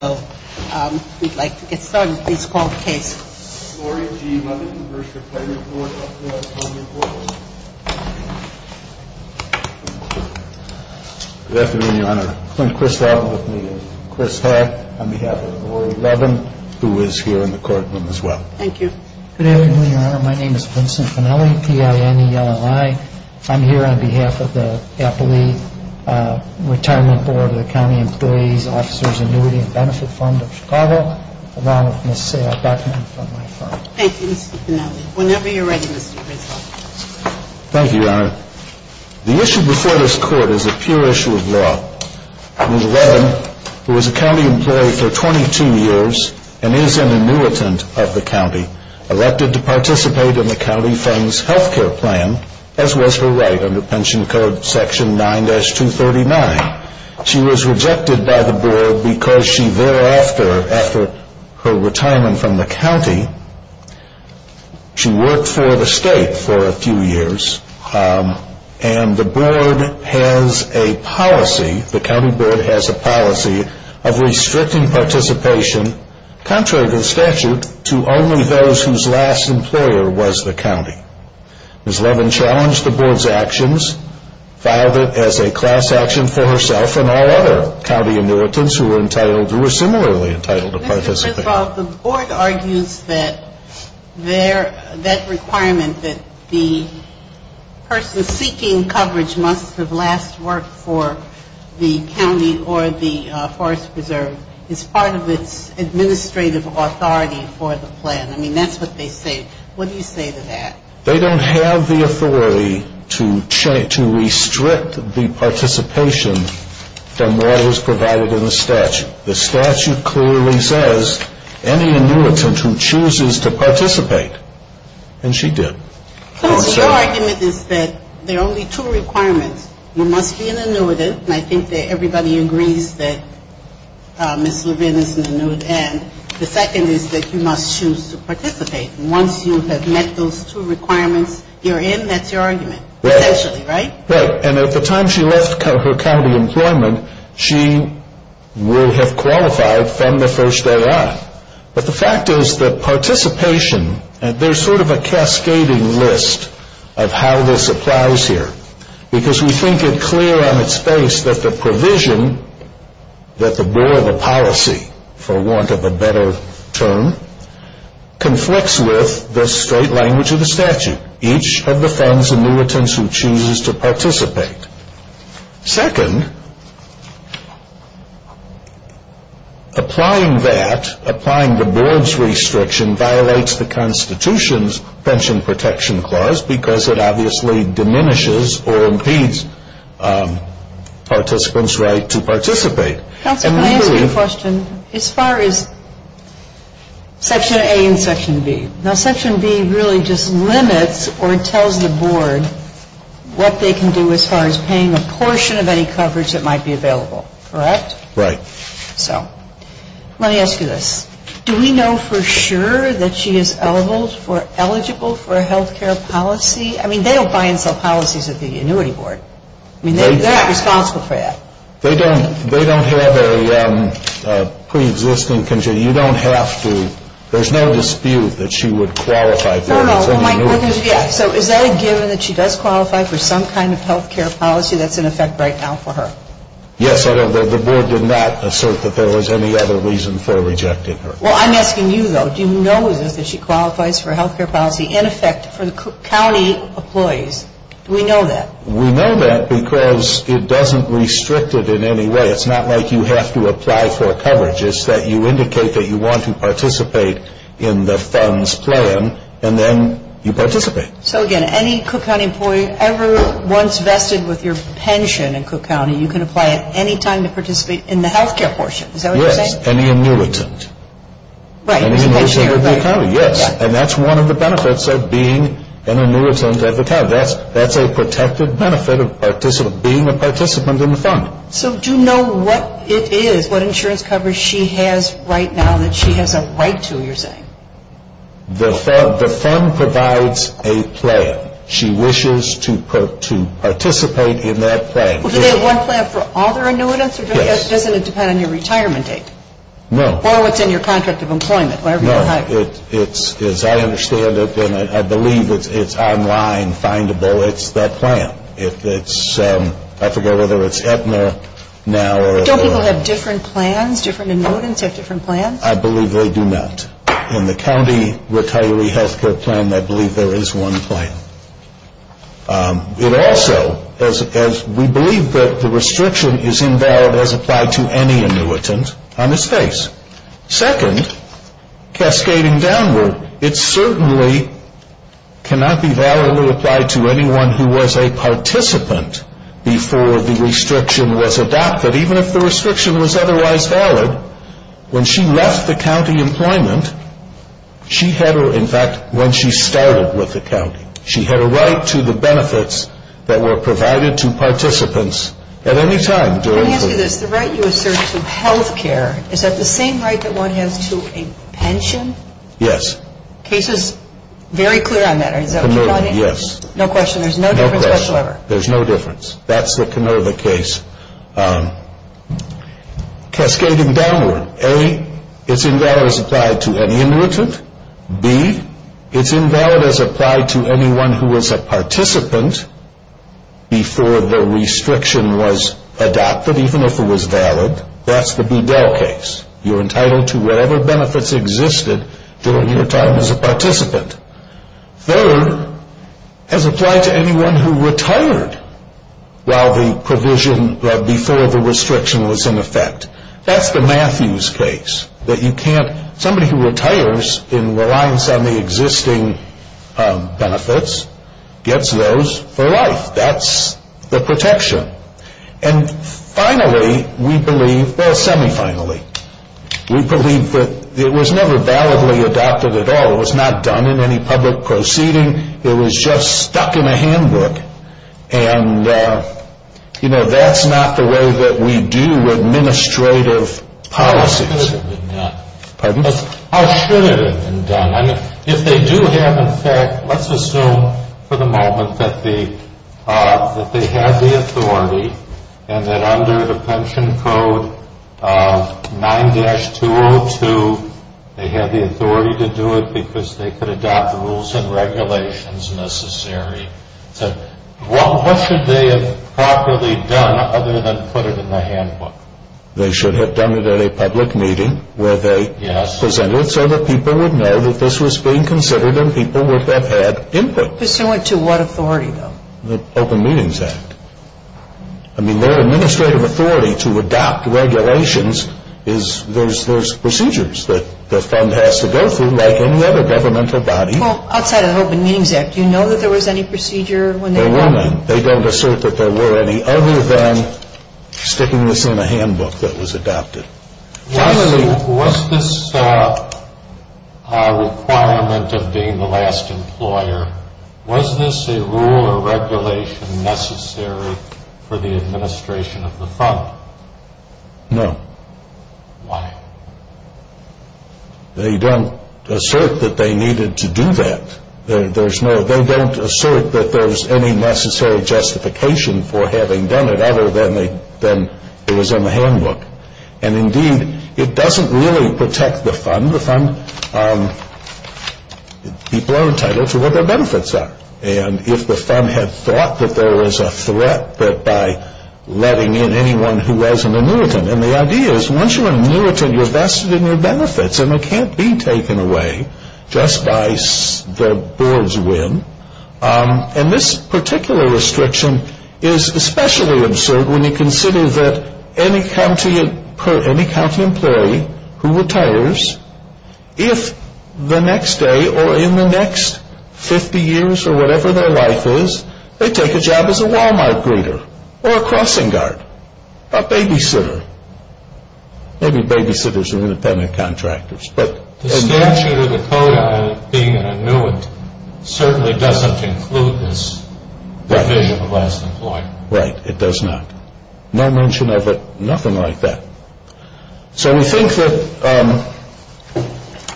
We'd like to get started with this court case. Lori G. Levin v. Retirement Board of the County Employees' and Officers' Annuity and Benefit Fund of Cook County Good afternoon, Your Honor. Clint Kristoff with me and Chris Hall on behalf of Lori Levin, who is here in the courtroom as well. Thank you. Good afternoon, Your Honor. My name is Vincent Fanelli, P-I-N-E-L-L-I. I'm here on behalf of the Appellee Retirement Board of the County Employees' and Officers' Annuity and Benefit Fund of Chicago, along with Ms. Sarah Beckman from my firm. Thank you, Mr. Fanelli. Whenever you're ready, Mr. Kristoff. Thank you, Your Honor. The issue before this court is a pure issue of law. Ms. Levin, who is a county employee for 22 years and is an annuitant of the county, elected to participate in the county funds health care plan, as was her right under Pension Code Section 9-239. She was rejected by the board because she thereafter, after her retirement from the county, she worked for the state for a few years. And the board has a policy, the county board has a policy of restricting participation, contrary to the statute, to only those whose last employer was the county. Ms. Levin challenged the board's actions, filed it as a class action for herself and all other county annuitants who were similarly entitled to participate. First of all, the board argues that that requirement, that the person seeking coverage must have last worked for the county or the Forest Preserve, is part of its administrative authority for the plan. I mean, that's what they say. What do you say to that? And she did. Your argument is that there are only two requirements. You must be an annuitant, and I think that everybody agrees that Ms. Levin is an annuitant. And the second is that you must choose to participate. Once you have met those two requirements you're in, that's your argument, essentially, right? Right. And at the time she left her county employment, she would have qualified from the first day on. But the fact is that participation, there's sort of a cascading list of how this applies here. Because we think it clear on its face that the provision that the board of policy, for want of a better term, conflicts with the straight language of the statute. Each of the funds annuitants who chooses to participate. Second, applying that, applying the board's restriction, violates the Constitution's Pension Protection Clause because it obviously diminishes or impedes participants' right to participate. Counselor, can I ask you a question? As far as Section A and Section B, now Section B really just limits or tells the board what they can do as far as paying a portion of any coverage that might be available, correct? Right. So, let me ask you this. Do we know for sure that she is eligible for a health care policy? I mean, they don't buy and sell policies at the annuity board. I mean, they're not responsible for that. They don't have a preexisting condition. You don't have to. There's no dispute that she would qualify for it. No, no. So, is that a given that she does qualify for some kind of health care policy that's in effect right now for her? Yes. The board did not assert that there was any other reason for rejecting her. Well, I'm asking you, though. Do you know that she qualifies for health care policy in effect for the county employees? Do we know that? We know that because it doesn't restrict it in any way. It's not like you have to apply for coverage. It's that you indicate that you want to participate in the funds plan, and then you participate. So, again, any Cook County employee ever once vested with your pension in Cook County, you can apply at any time to participate in the health care portion. Is that what you're saying? Yes. Any annuitant. Right. Any annuitant with the county. Yes. And that's one of the benefits of being an annuitant at the county. That's a protected benefit of being a participant in the fund. So, do you know what it is, what insurance coverage she has right now that she has a right to, you're saying? The fund provides a plan. She wishes to participate in that plan. Well, do they have one plan for all their annuitants? Yes. Doesn't it depend on your retirement date? No. Or what's in your contract of employment, whatever you have. As I understand it, and I believe it's online, findable, it's that plan. I forget whether it's Aetna now. Don't people have different plans, different annuitants have different plans? I believe they do not. In the county retiree health care plan, I believe there is one plan. It also, as we believe that the restriction is invalid as applied to any annuitant on this case. Second, cascading downward, it certainly cannot be validly applied to anyone who was a participant before the restriction was adopted. Even if the restriction was otherwise valid, when she left the county employment, she had, in fact, when she started with the county, she had a right to the benefits that were provided to participants at any time. Let me ask you this, the right you assert to health care, is that the same right that one has to a pension? Yes. The case is very clear on that. Yes. No question, there's no difference whatsoever. There's no difference. That's the Canova case. Cascading downward, A, it's invalid as applied to any annuitant. B, it's invalid as applied to anyone who was a participant before the restriction was adopted, even if it was valid. That's the Budell case. You're entitled to whatever benefits existed during your time as a participant. Third, as applied to anyone who retired while the provision before the restriction was in effect. That's the Matthews case. Somebody who retires in reliance on the existing benefits gets those for life. That's the protection. And finally, we believe, well semi-finally, we believe that it was never validly adopted at all. It was not done in any public proceeding. It was just stuck in a handbook. And, you know, that's not the way that we do administrative policies. How should it have been done? Pardon? How should it have been done? If they do have in fact, let's assume for the moment that they have the authority and that under the pension code 9-202 they have the authority to do it because they could adopt the rules and regulations necessary. So what should they have properly done other than put it in the handbook? They should have done it at a public meeting where they presented so that people would know that this was being considered and people would have had input. Pursuant to what authority though? The Open Meetings Act. I mean their administrative authority to adopt regulations is there's procedures that the fund has to go through like any other governmental body. Well, outside of the Open Meetings Act, do you know that there was any procedure when they adopted it? There were none. They don't assert that there were any other than sticking this in a handbook that was adopted. Was this requirement of being the last employer, was this a rule or regulation necessary for the administration of the fund? No. Why? They don't assert that they needed to do that. They don't assert that there was any necessary justification for having done it other than it was in the handbook. And indeed, it doesn't really protect the fund. People are entitled to what their benefits are. And if the fund had thought that there was a threat that by letting in anyone who was an annuitant, and the idea is once you're an annuitant, you're vested in your benefits and they can't be taken away just by the board's win. And this particular restriction is especially absurd when you consider that any county employee who retires, if the next day or in the next 50 years or whatever their life is, they take a job as a Walmart greeter or a crossing guard, a babysitter. Maybe babysitters are independent contractors. The statute or the code on it being an annuitant certainly doesn't include this provision of last employer. Right, it does not. No mention of it, nothing like that. So we think that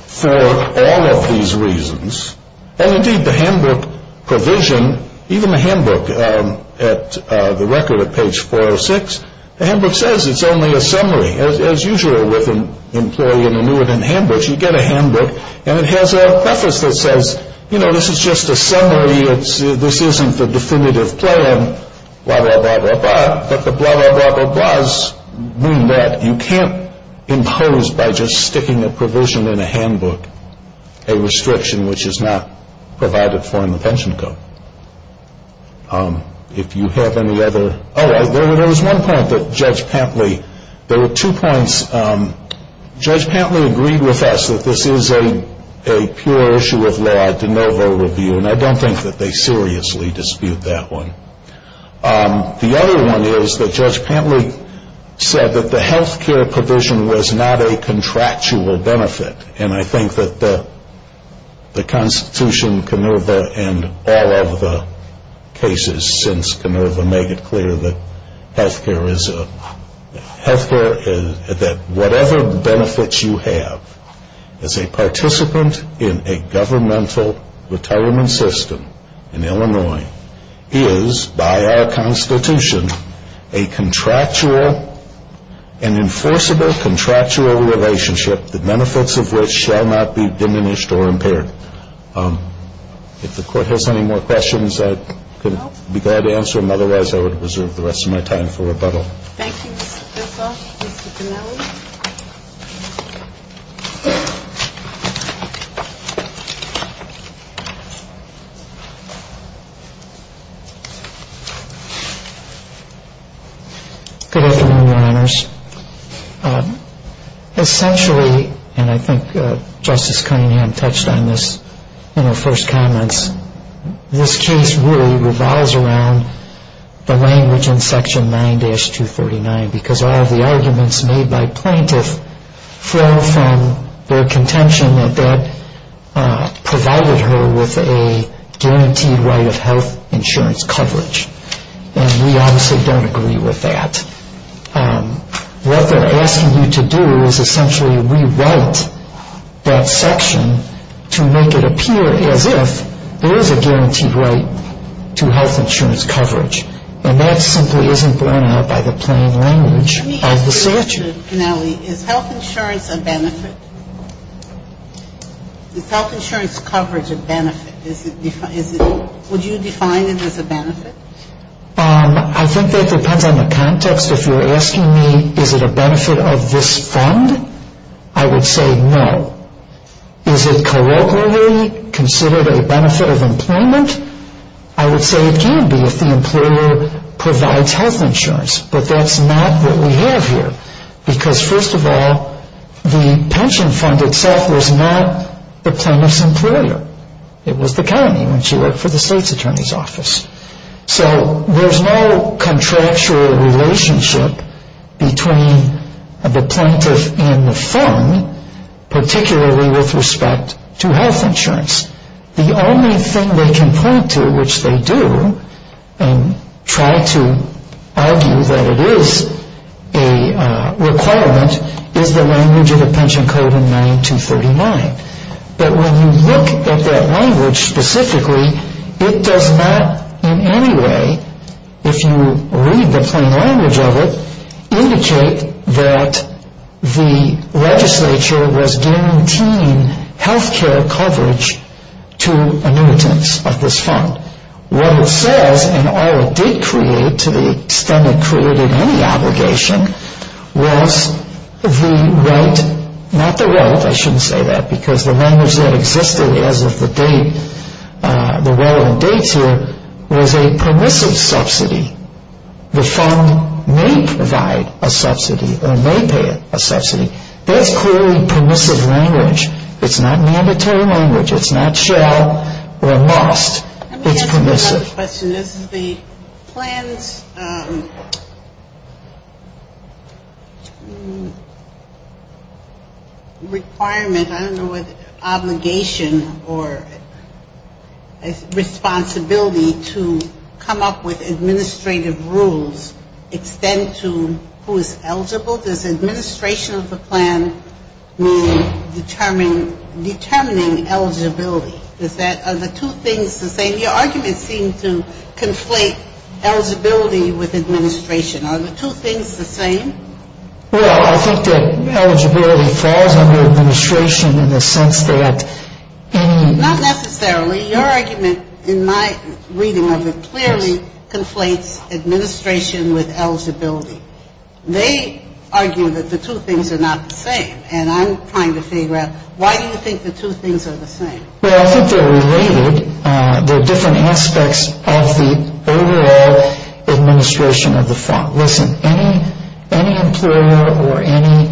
for all of these reasons, and indeed the handbook provision, even the handbook at the record at page 406, the handbook says it's only a summary. As usual with an employee in annuitant handbooks, you get a handbook, and it has a preface that says, you know, this is just a summary. This isn't the definitive plan, blah, blah, blah, blah, blah. But the blah, blah, blah, blah, blahs mean that you can't impose by just sticking a provision in a handbook a restriction which is not provided for in the pension code. If you have any other, oh, there was one point that Judge Pantley, there were two points. Judge Pantley agreed with us that this is a pure issue of law, de novo review, and I don't think that they seriously dispute that one. The other one is that Judge Pantley said that the health care provision was not a contractual benefit, and I think that the Constitution, Canova, and all of the cases since Canova make it clear that health care is, that whatever benefits you have as a participant in a governmental retirement system in Illinois is by our Constitution a contractual, an enforceable contractual relationship that the benefits of which shall not be diminished or impaired. If the Court has any more questions, I'd be glad to answer them. Otherwise, I would reserve the rest of my time for rebuttal. Thank you, Mr. Bessoff. Mr. Dinelli? Good afternoon, Your Honors. Essentially, and I think Justice Cunningham touched on this in her first comments, this case really revolves around the language in Section 9-239 because all of the arguments made by plaintiffs flow from their contention that that provided her with a guaranteed right of health insurance coverage, and we obviously don't agree with that. What they're asking you to do is essentially rewrite that section to make it appear as if there is a guaranteed right to health insurance coverage, and that simply isn't borne out by the plain language of the statute. Let me ask you, Mr. Dinelli, is health insurance a benefit? Is health insurance coverage a benefit? Would you define it as a benefit? I think that depends on the context. If you're asking me is it a benefit of this fund, I would say no. Is it colloquially considered a benefit of employment? I would say it can be if the employer provides health insurance, but that's not what we have here because, first of all, the pension fund itself was not the plaintiff's employer. It was the county when she worked for the state's attorney's office. So there's no contractual relationship between the plaintiff and the fund, particularly with respect to health insurance. The only thing they can point to, which they do, and try to argue that it is a requirement, is the language of the pension code in 9-239. But when you look at that language specifically, it does not in any way, if you read the plain language of it, indicate that the legislature was guaranteeing health care coverage to annuitants like this fund. What it says, and all it did create, to the extent it created any obligation, was the right, not the right, I shouldn't say that, because the language that existed as of the date, the relevant dates here, was a permissive subsidy. The fund may provide a subsidy or may pay a subsidy. That's clearly permissive language. It's not mandatory language. It's not shall or must. It's permissive. The other question is the plan's requirement, I don't know what, obligation or responsibility to come up with administrative rules, extend to who is eligible. Does administration of the plan mean determining eligibility? Is that, are the two things the same? Your arguments seem to conflate eligibility with administration. Are the two things the same? Well, I think that eligibility falls under administration in the sense that in the Not necessarily. Your argument in my reading of it clearly conflates administration with eligibility. They argue that the two things are not the same. And I'm trying to figure out why do you think the two things are the same? Well, I think they're related. They're different aspects of the overall administration of the fund. Listen, any employer or any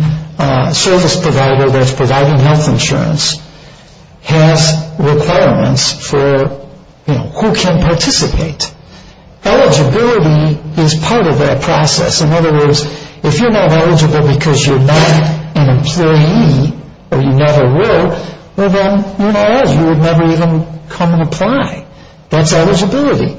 service provider that's providing health insurance has requirements for, you know, who can participate. Eligibility is part of that process. In other words, if you're not eligible because you're not an employee or you never were, well, then you're not eligible. You would never even come and apply. That's eligibility.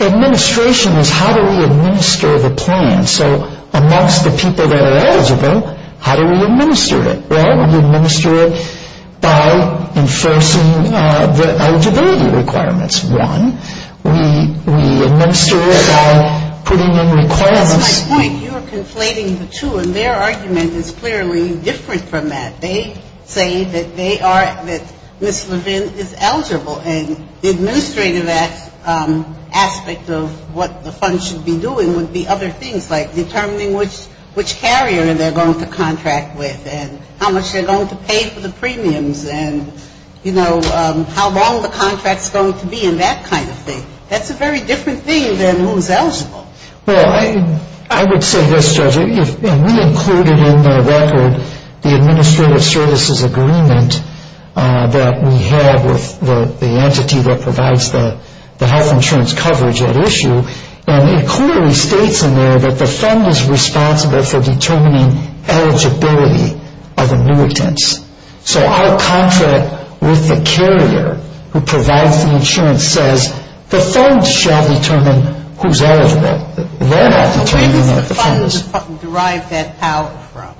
Administration is how do we administer the plan. So amongst the people that are eligible, how do we administer it? Well, we administer it by enforcing the eligibility requirements. One, we administer it by putting in requirements. That's my point. And their argument is clearly different from that. They say that they are, that Ms. Levin is eligible. And the administrative aspect of what the fund should be doing would be other things, like determining which carrier they're going to contract with and how much they're going to pay for the premiums and, you know, how long the contract's going to be and that kind of thing. That's a very different thing than who's eligible. Well, I would say this, Judge, and we included in the record the administrative services agreement that we had with the entity that provides the health insurance coverage at issue, and it clearly states in there that the fund is responsible for determining eligibility of the muitants. So our contract with the carrier who provides the insurance says, the fund shall determine who's eligible. They're not determining what the fund is. Who does the fund derive that power from?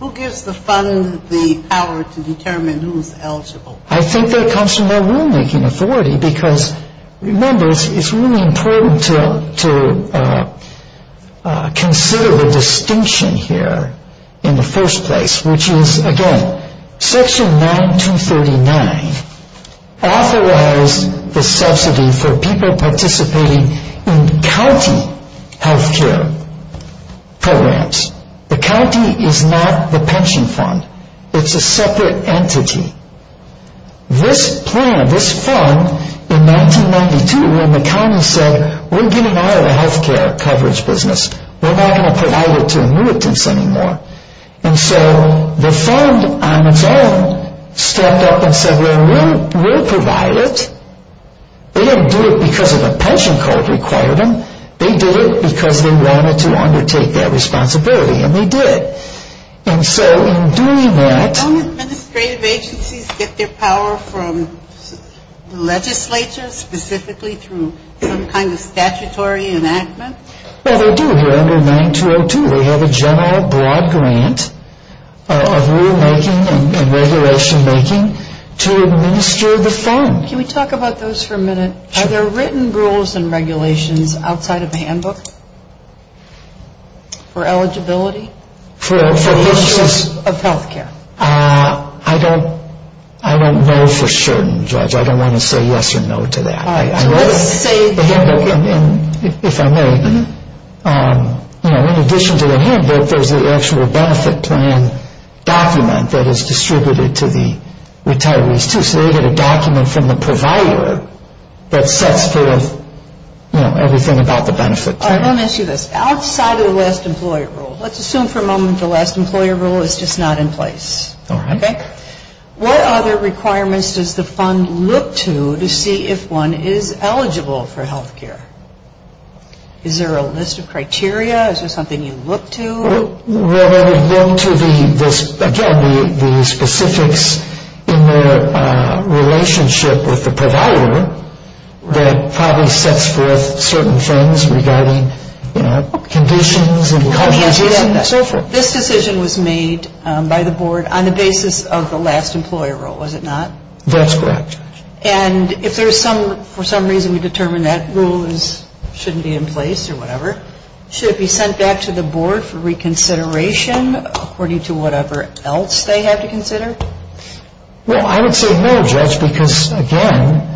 Who gives the fund the power to determine who's eligible? I think that comes from their rulemaking authority because, remember, it's really important to consider the distinction here in the first place, which is, again, Section 9239 authorized the subsidy for people participating in county health care programs. The county is not the pension fund. It's a separate entity. This plan, this fund, in 1992 when the county said, we're getting out of the health care coverage business. We're not going to provide it to muitants anymore. And so the fund on its own stepped up and said, well, we'll provide it. They didn't do it because a pension code required them. They did it because they wanted to undertake that responsibility, and they did. And so in doing that… Don't administrative agencies get their power from the legislature, specifically through some kind of statutory enactment? Well, they do here under 9202. They have a general broad grant of rulemaking and regulation making to administer the fund. Can we talk about those for a minute? Sure. Are there written rules and regulations outside of the handbook for eligibility of health care? I don't know for certain, Judge. I don't want to say yes or no to that. All right. In addition to the handbook, there's an actual benefit plan document that is distributed to the retirees too. So they get a document from the provider that sets forth everything about the benefit plan. All right, let me ask you this. Outside of the last employer rule, let's assume for a moment the last employer rule is just not in place. All right. What other requirements does the fund look to to see if one is eligible for health care? Is there a list of criteria? Is there something you look to? Well, there would go to the specifics in their relationship with the provider that probably sets forth certain things regarding conditions and conditions and so forth. This decision was made by the board on the basis of the last employer rule, was it not? That's correct, Judge. And if there's some reason to determine that rule shouldn't be in place or whatever, should it be sent back to the board for reconsideration according to whatever else they have to consider? Well, I would say no, Judge, because, again,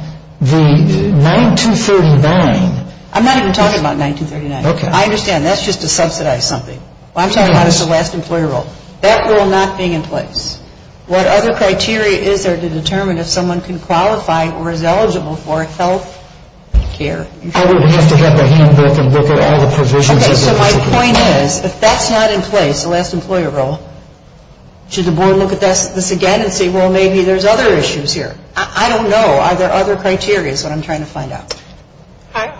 the 9239. I'm not even talking about 9239. Okay. I understand. That's just to subsidize something. I'm talking about the last employer rule. That rule not being in place. What other criteria is there to determine if someone can qualify or is eligible for health care? I would have to have the handbook and look at all the provisions. Okay, so my point is if that's not in place, the last employer rule, should the board look at this again and say, well, maybe there's other issues here? I don't know. Are there other criteria is what I'm trying to find out.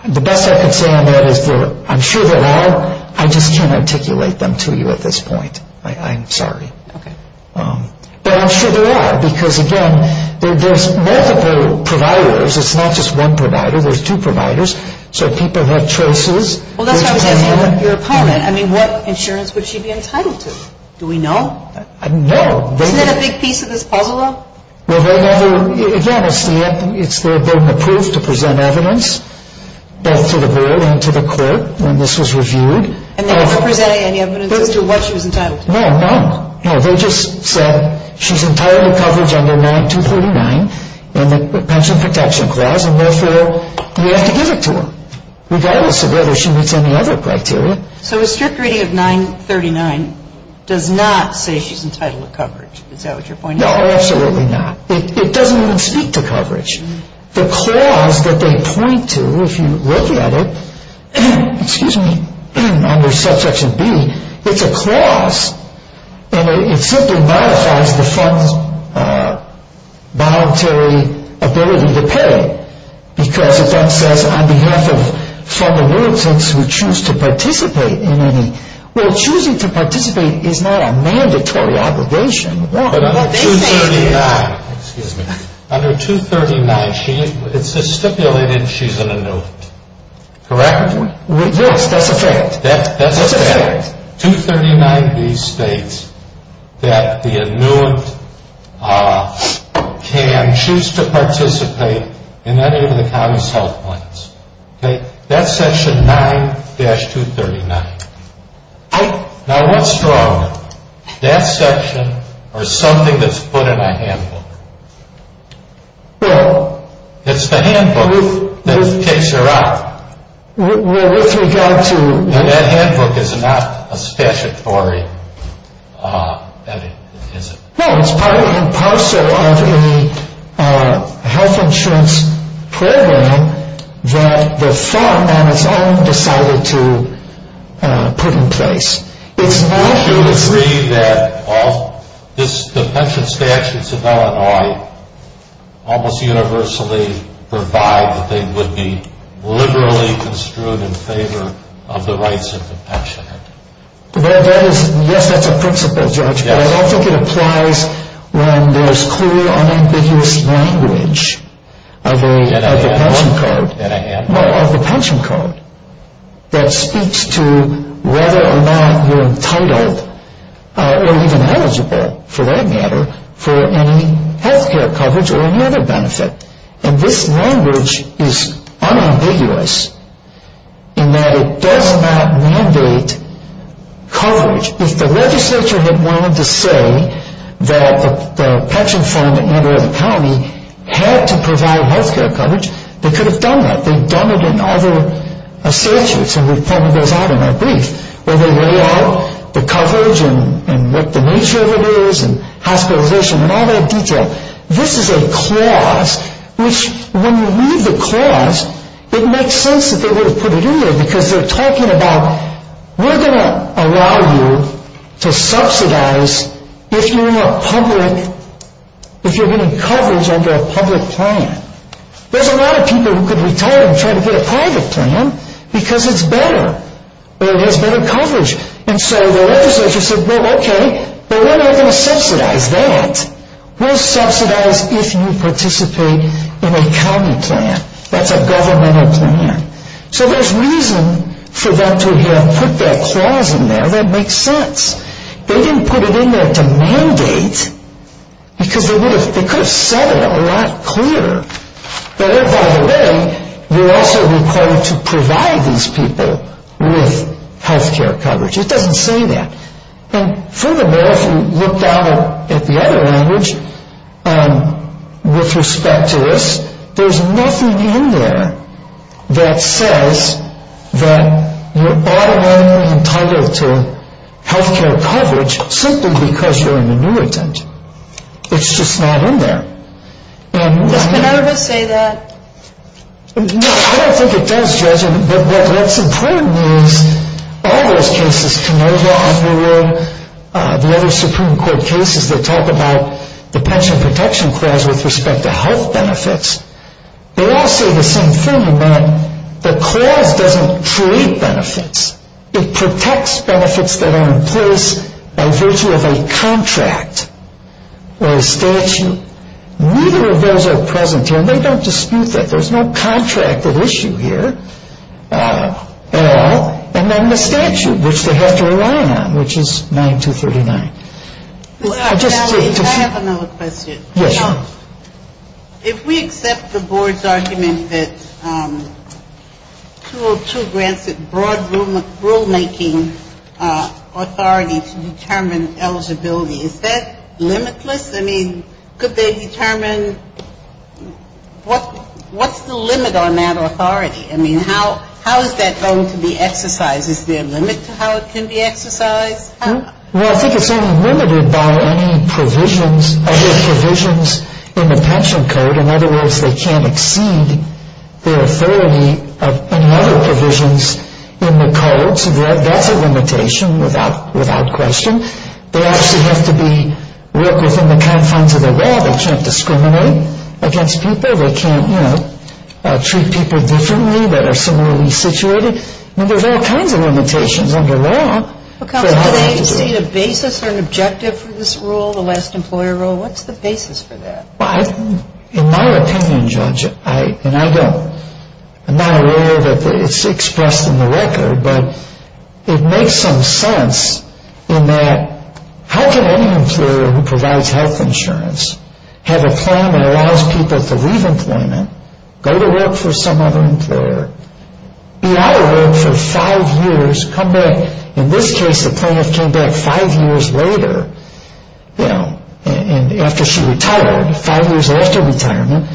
The best I can say on that is I'm sure there are. I just can't articulate them to you at this point. I'm sorry. Okay. But I'm sure there are because, again, there's multiple providers. It's not just one provider. There's two providers. So people have choices. Well, that's what I was asking your opponent. I mean, what insurance would she be entitled to? Do we know? I don't know. Isn't that a big piece of this puzzle, though? Well, they never, again, it's their burden of proof to present evidence both to the board and to the court when this was reviewed. And they never presented any evidence as to what she was entitled to. No, no. No, they just said she's entirely covered under 9239 in the pension protection clause and therefore we have to give it to her regardless of whether she meets any other criteria. So a strict reading of 939 does not say she's entitled to coverage. Is that what you're pointing to? No, absolutely not. It doesn't even speak to coverage. The clause that they point to, if you look at it, excuse me, under subsection B, it's a clause. And it simply modifies the fund's voluntary ability to pay because it then says on behalf of fund annuitants who choose to participate in any... Well, choosing to participate is not a mandatory obligation. But under 239, excuse me, under 239, it's stipulated she's an annuitant. Correct? Yes, that's a fact. That's a fact. 239B states that the annuitant can choose to participate in any of the county's health plans. Okay? That's section 9-239. Now what's wrong? That section or something that's put in a handbook? Well... It's the handbook that takes her out. Well, with regard to... That handbook is not a statutory... No, it's part of a parcel of a health insurance program that the fund on its own decided to put in place. It's not... Well, that is... Yes, that's a principle, Judge. But I don't think it applies when there's clear, unambiguous language of a... In a handbook? No, of the pension code that speaks to whether or not you're entitled or even eligible, for that matter, for any health care coverage or any other benefit. And this language is unambiguous in that it does not mandate coverage. If the legislature had wanted to say that the pension fund at any other county had to provide health care coverage, they could have done that. They've done it in other statutes, and we've pointed those out in our brief, where they lay out the coverage and what the nature of it is and hospitalization and all that detail. This is a clause which, when you read the clause, it makes sense that they would have put it in there because they're talking about, we're going to allow you to subsidize if you're in a public... if you're getting coverage under a public plan. There's a lot of people who could retire and try to get a private plan because it's better or it has better coverage. And so the legislature said, well, okay, but we're not going to subsidize that. We'll subsidize if you participate in a county plan. That's a governmental plan. So there's reason for them to have put that clause in there. That makes sense. They didn't put it in there to mandate because they could have said it a lot clearer. By the way, we're also required to provide these people with health care coverage. It doesn't say that. And furthermore, if you look down at the other language with respect to this, there's nothing in there that says that you're automatically entitled to health care coverage simply because you're an annuitant. It's just not in there. And... Does Penova say that? I don't think it does, Judge. But what's important is all those cases, Penova, Underwood, the other Supreme Court cases, they talk about the pension protection clause with respect to health benefits. They all say the same thing about the clause doesn't create benefits. It protects benefits that are in place by virtue of a contract or a statute. Neither of those are present here, and they don't dispute that. There's no contract of issue here at all. And then the statute, which they have to rely on, which is 9239. I have another question. Yes. If we accept the board's argument that 202 grants it broad rulemaking authority to determine eligibility, is that limitless? I mean, could they determine what's the limit on that authority? I mean, how is that going to be exercised? Is there a limit to how it can be exercised? Well, I think it's only limited by any provisions of the provisions in the pension code. In other words, they can't exceed their authority of any other provisions in the codes. That's a limitation without question. They actually have to be within the confines of the law. They can't discriminate against people. They can't, you know, treat people differently that are similarly situated. I mean, there's all kinds of limitations under law. Counsel, do they exceed a basis or an objective for this rule, the last employer rule? What's the basis for that? Well, in my opinion, Judge, and I'm not aware that it's expressed in the record, but it makes some sense in that how can any employer who provides health insurance have a plan that allows people to leave employment, go to work for some other employer, be out of work for five years, come back. In this case, the plaintiff came back five years later, you know, after she retired, five years after retirement,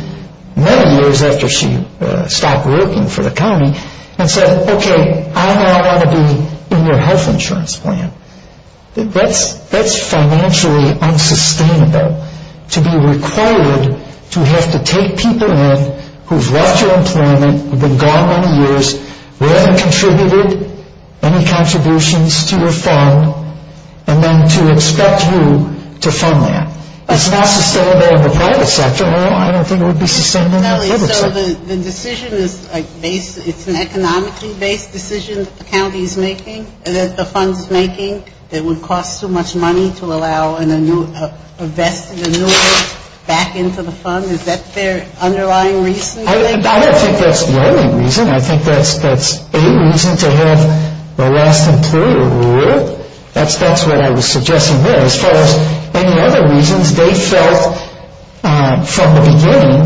many years after she stopped working for the county, and said, okay, I now want to be in your health insurance plan. That's financially unsustainable to be required to have to take people in who've left your employment, who've been gone many years, who haven't contributed any contributions to your fund, and then to expect you to fund them. It's not sustainable in the private sector. So the decision is based, it's an economically based decision that the county is making, that the fund is making, that would cost so much money to allow a vested annuity back into the fund. Is that their underlying reason? I don't think that's the only reason. I think that's a reason to have the last employer rule. That's what I was suggesting there. As far as any other reasons, they felt from the beginning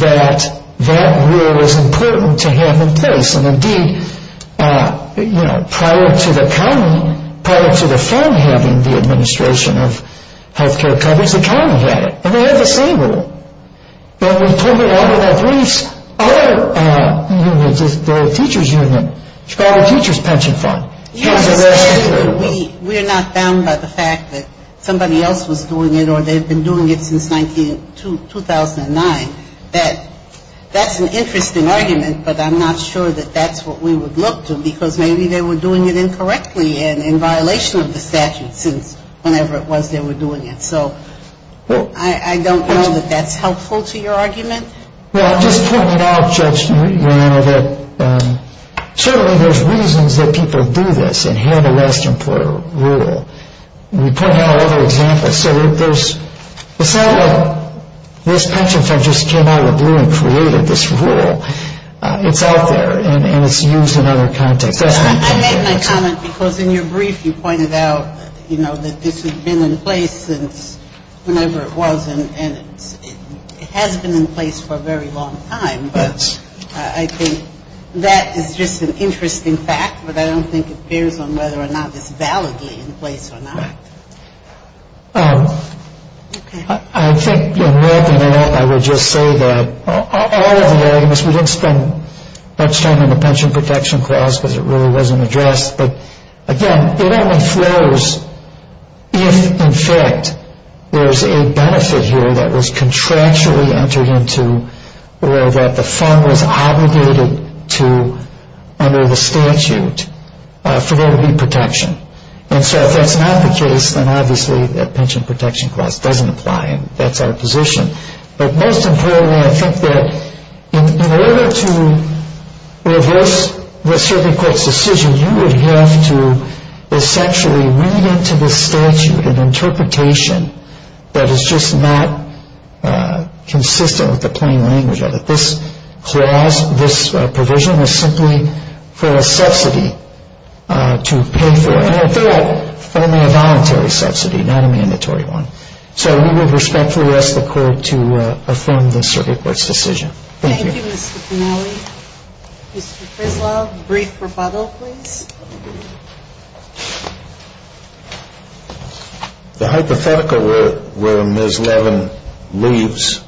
that that rule was important to have in place. And indeed, you know, prior to the county, prior to the fund having the administration of health care coverage, the county had it. And they had the same rule. And we pulled it off in our briefs. Our teachers' union, Chicago Teachers' Pension Fund. We're not bound by the fact that somebody else was doing it or they've been doing it since 2009. That's an interesting argument, but I'm not sure that that's what we would look to, because maybe they were doing it incorrectly and in violation of the statute since whenever it was they were doing it. So I don't know that that's helpful to your argument. Well, I just pointed out, Judge Marino, that certainly there's reasons that people do this and have the last employer rule. We pointed out other examples. So it's not like this pension fund just came out of the blue and created this rule. It's out there, and it's used in other contexts. I made my comment because in your brief you pointed out, you know, that this has been in place since whenever it was, and it has been in place for a very long time. But I think that is just an interesting fact. But I don't think it bears on whether or not it's validly in place or not. I think in wrapping it up, I would just say that all of the arguments, we didn't spend much time on the pension protection clause because it really wasn't addressed. But, again, it only flows if, in fact, there's a benefit here that was contractually entered into or that the fund was obligated to under the statute for there to be protection. And so if that's not the case, then obviously that pension protection clause doesn't apply, and that's our position. But most importantly, I think that in order to reverse the circuit court's decision, you would have to essentially read into the statute an interpretation that is just not consistent with the plain language of it. This provision was simply for a subsidy to pay for, and, in fact, only a voluntary subsidy, not a mandatory one. So we will respectfully ask the court to affirm the circuit court's decision. Thank you. Thank you, Mr. Penali. Mr. Frislow, brief rebuttal, please. The hypothetical where Ms. Levin leaves,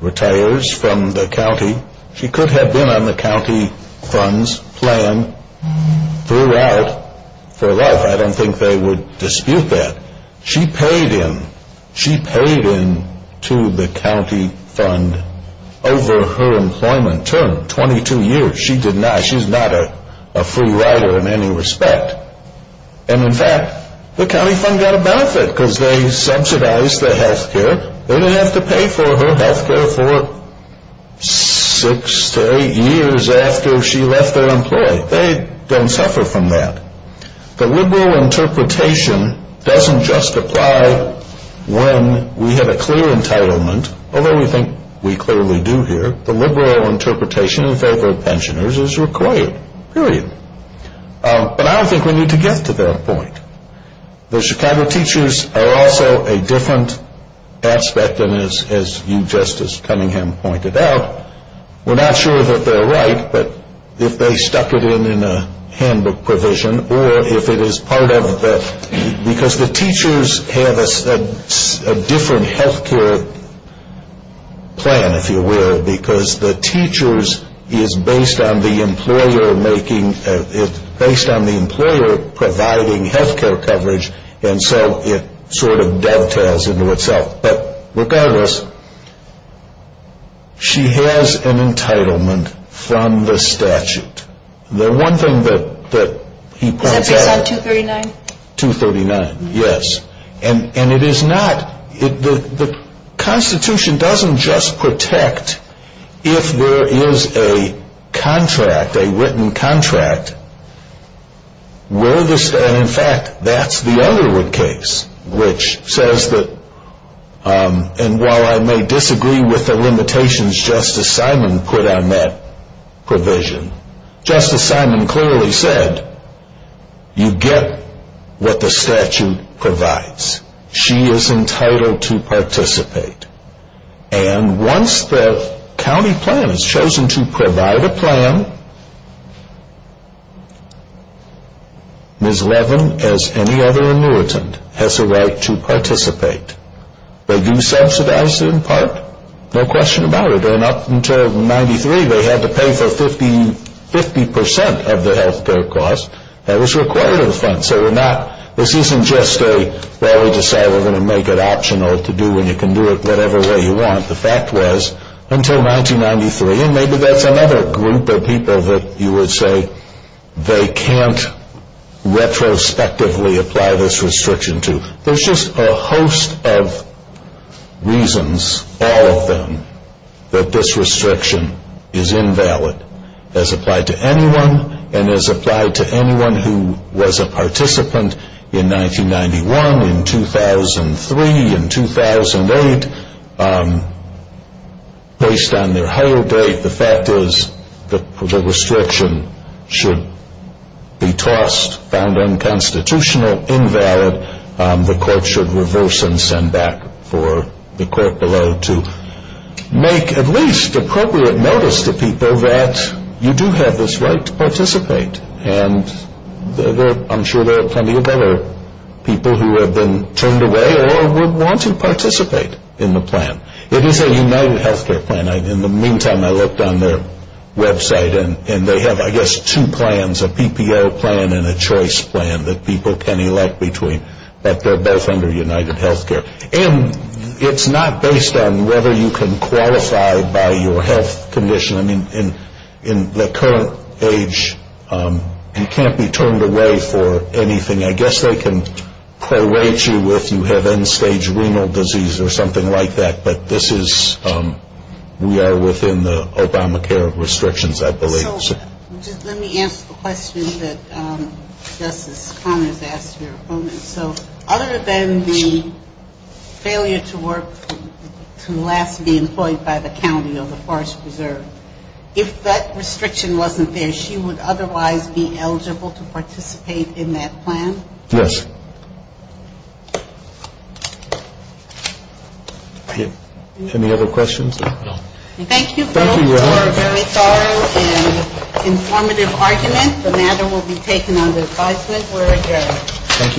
retires from the county, she could have been on the county funds plan throughout for life. I don't think they would dispute that. She paid in. She paid in to the county fund over her employment term, 22 years. She did not. She's not a free rider in any respect. And, in fact, the county fund got a benefit because they subsidized the health care. They didn't have to pay for her health care for six to eight years after she left their employ. They don't suffer from that. The liberal interpretation doesn't just apply when we have a clear entitlement, although we think we clearly do here. The liberal interpretation in favor of pensioners is required, period. But I don't think we need to get to that point. The Chicago teachers are also a different aspect, and as you, Justice Cunningham, pointed out, we're not sure that they're right, but if they stuck it in in a handbook provision, or if it is part of the, because the teachers have a different health care plan, if you will, because the teachers is based on the employer making, based on the employer providing health care coverage, and so it sort of dovetails into itself. But regardless, she has an entitlement from the statute. The one thing that he points out. Is that based on 239? 239, yes. And it is not, the Constitution doesn't just protect if there is a contract, a written contract, and in fact, that's the Underwood case, which says that, and while I may disagree with the limitations Justice Simon put on that provision, Justice Simon clearly said, you get what the statute provides. She is entitled to participate. And once the county plan has chosen to provide a plan, Ms. Levin, as any other annuitant, has a right to participate. They do subsidize it in part, no question about it, and up until 93 they had to pay for 50% of the health care cost that was required of the fund. So we're not, this isn't just a, well we just say we're going to make it optional to do when you can do it whatever way you want. The fact was, until 1993, and maybe that's another group of people that you would say, they can't retrospectively apply this restriction to. There's just a host of reasons, all of them, that this restriction is invalid. As applied to anyone, and as applied to anyone who was a participant in 1991, in 2003, in 2008, based on their hire date, the fact is the restriction should be tossed, found unconstitutional, invalid. The court should reverse and send back for the court below to make at least appropriate notice to people that you do have this right to participate. And I'm sure there are plenty of other people who have been turned away or would want to participate in the plan. It is a UnitedHealthcare plan. In the meantime, I looked on their website and they have, I guess, two plans, a PPO plan and a choice plan that people can elect between, but they're both under UnitedHealthcare. And it's not based on whether you can qualify by your health condition. I mean, in the current age, you can't be turned away for anything. I guess they can prorate you if you have end-stage renal disease or something like that, but this is, we are within the Obamacare restrictions, I believe. Just let me ask the question that Justice Connors asked your opponent. So other than the failure to work to last be employed by the county of the Forest Preserve, if that restriction wasn't there, she would otherwise be eligible to participate in that plan? Yes. Any other questions? Thank you both for a very thorough and informative argument. The matter will be taken under advisement. We're adjourned. Thank you.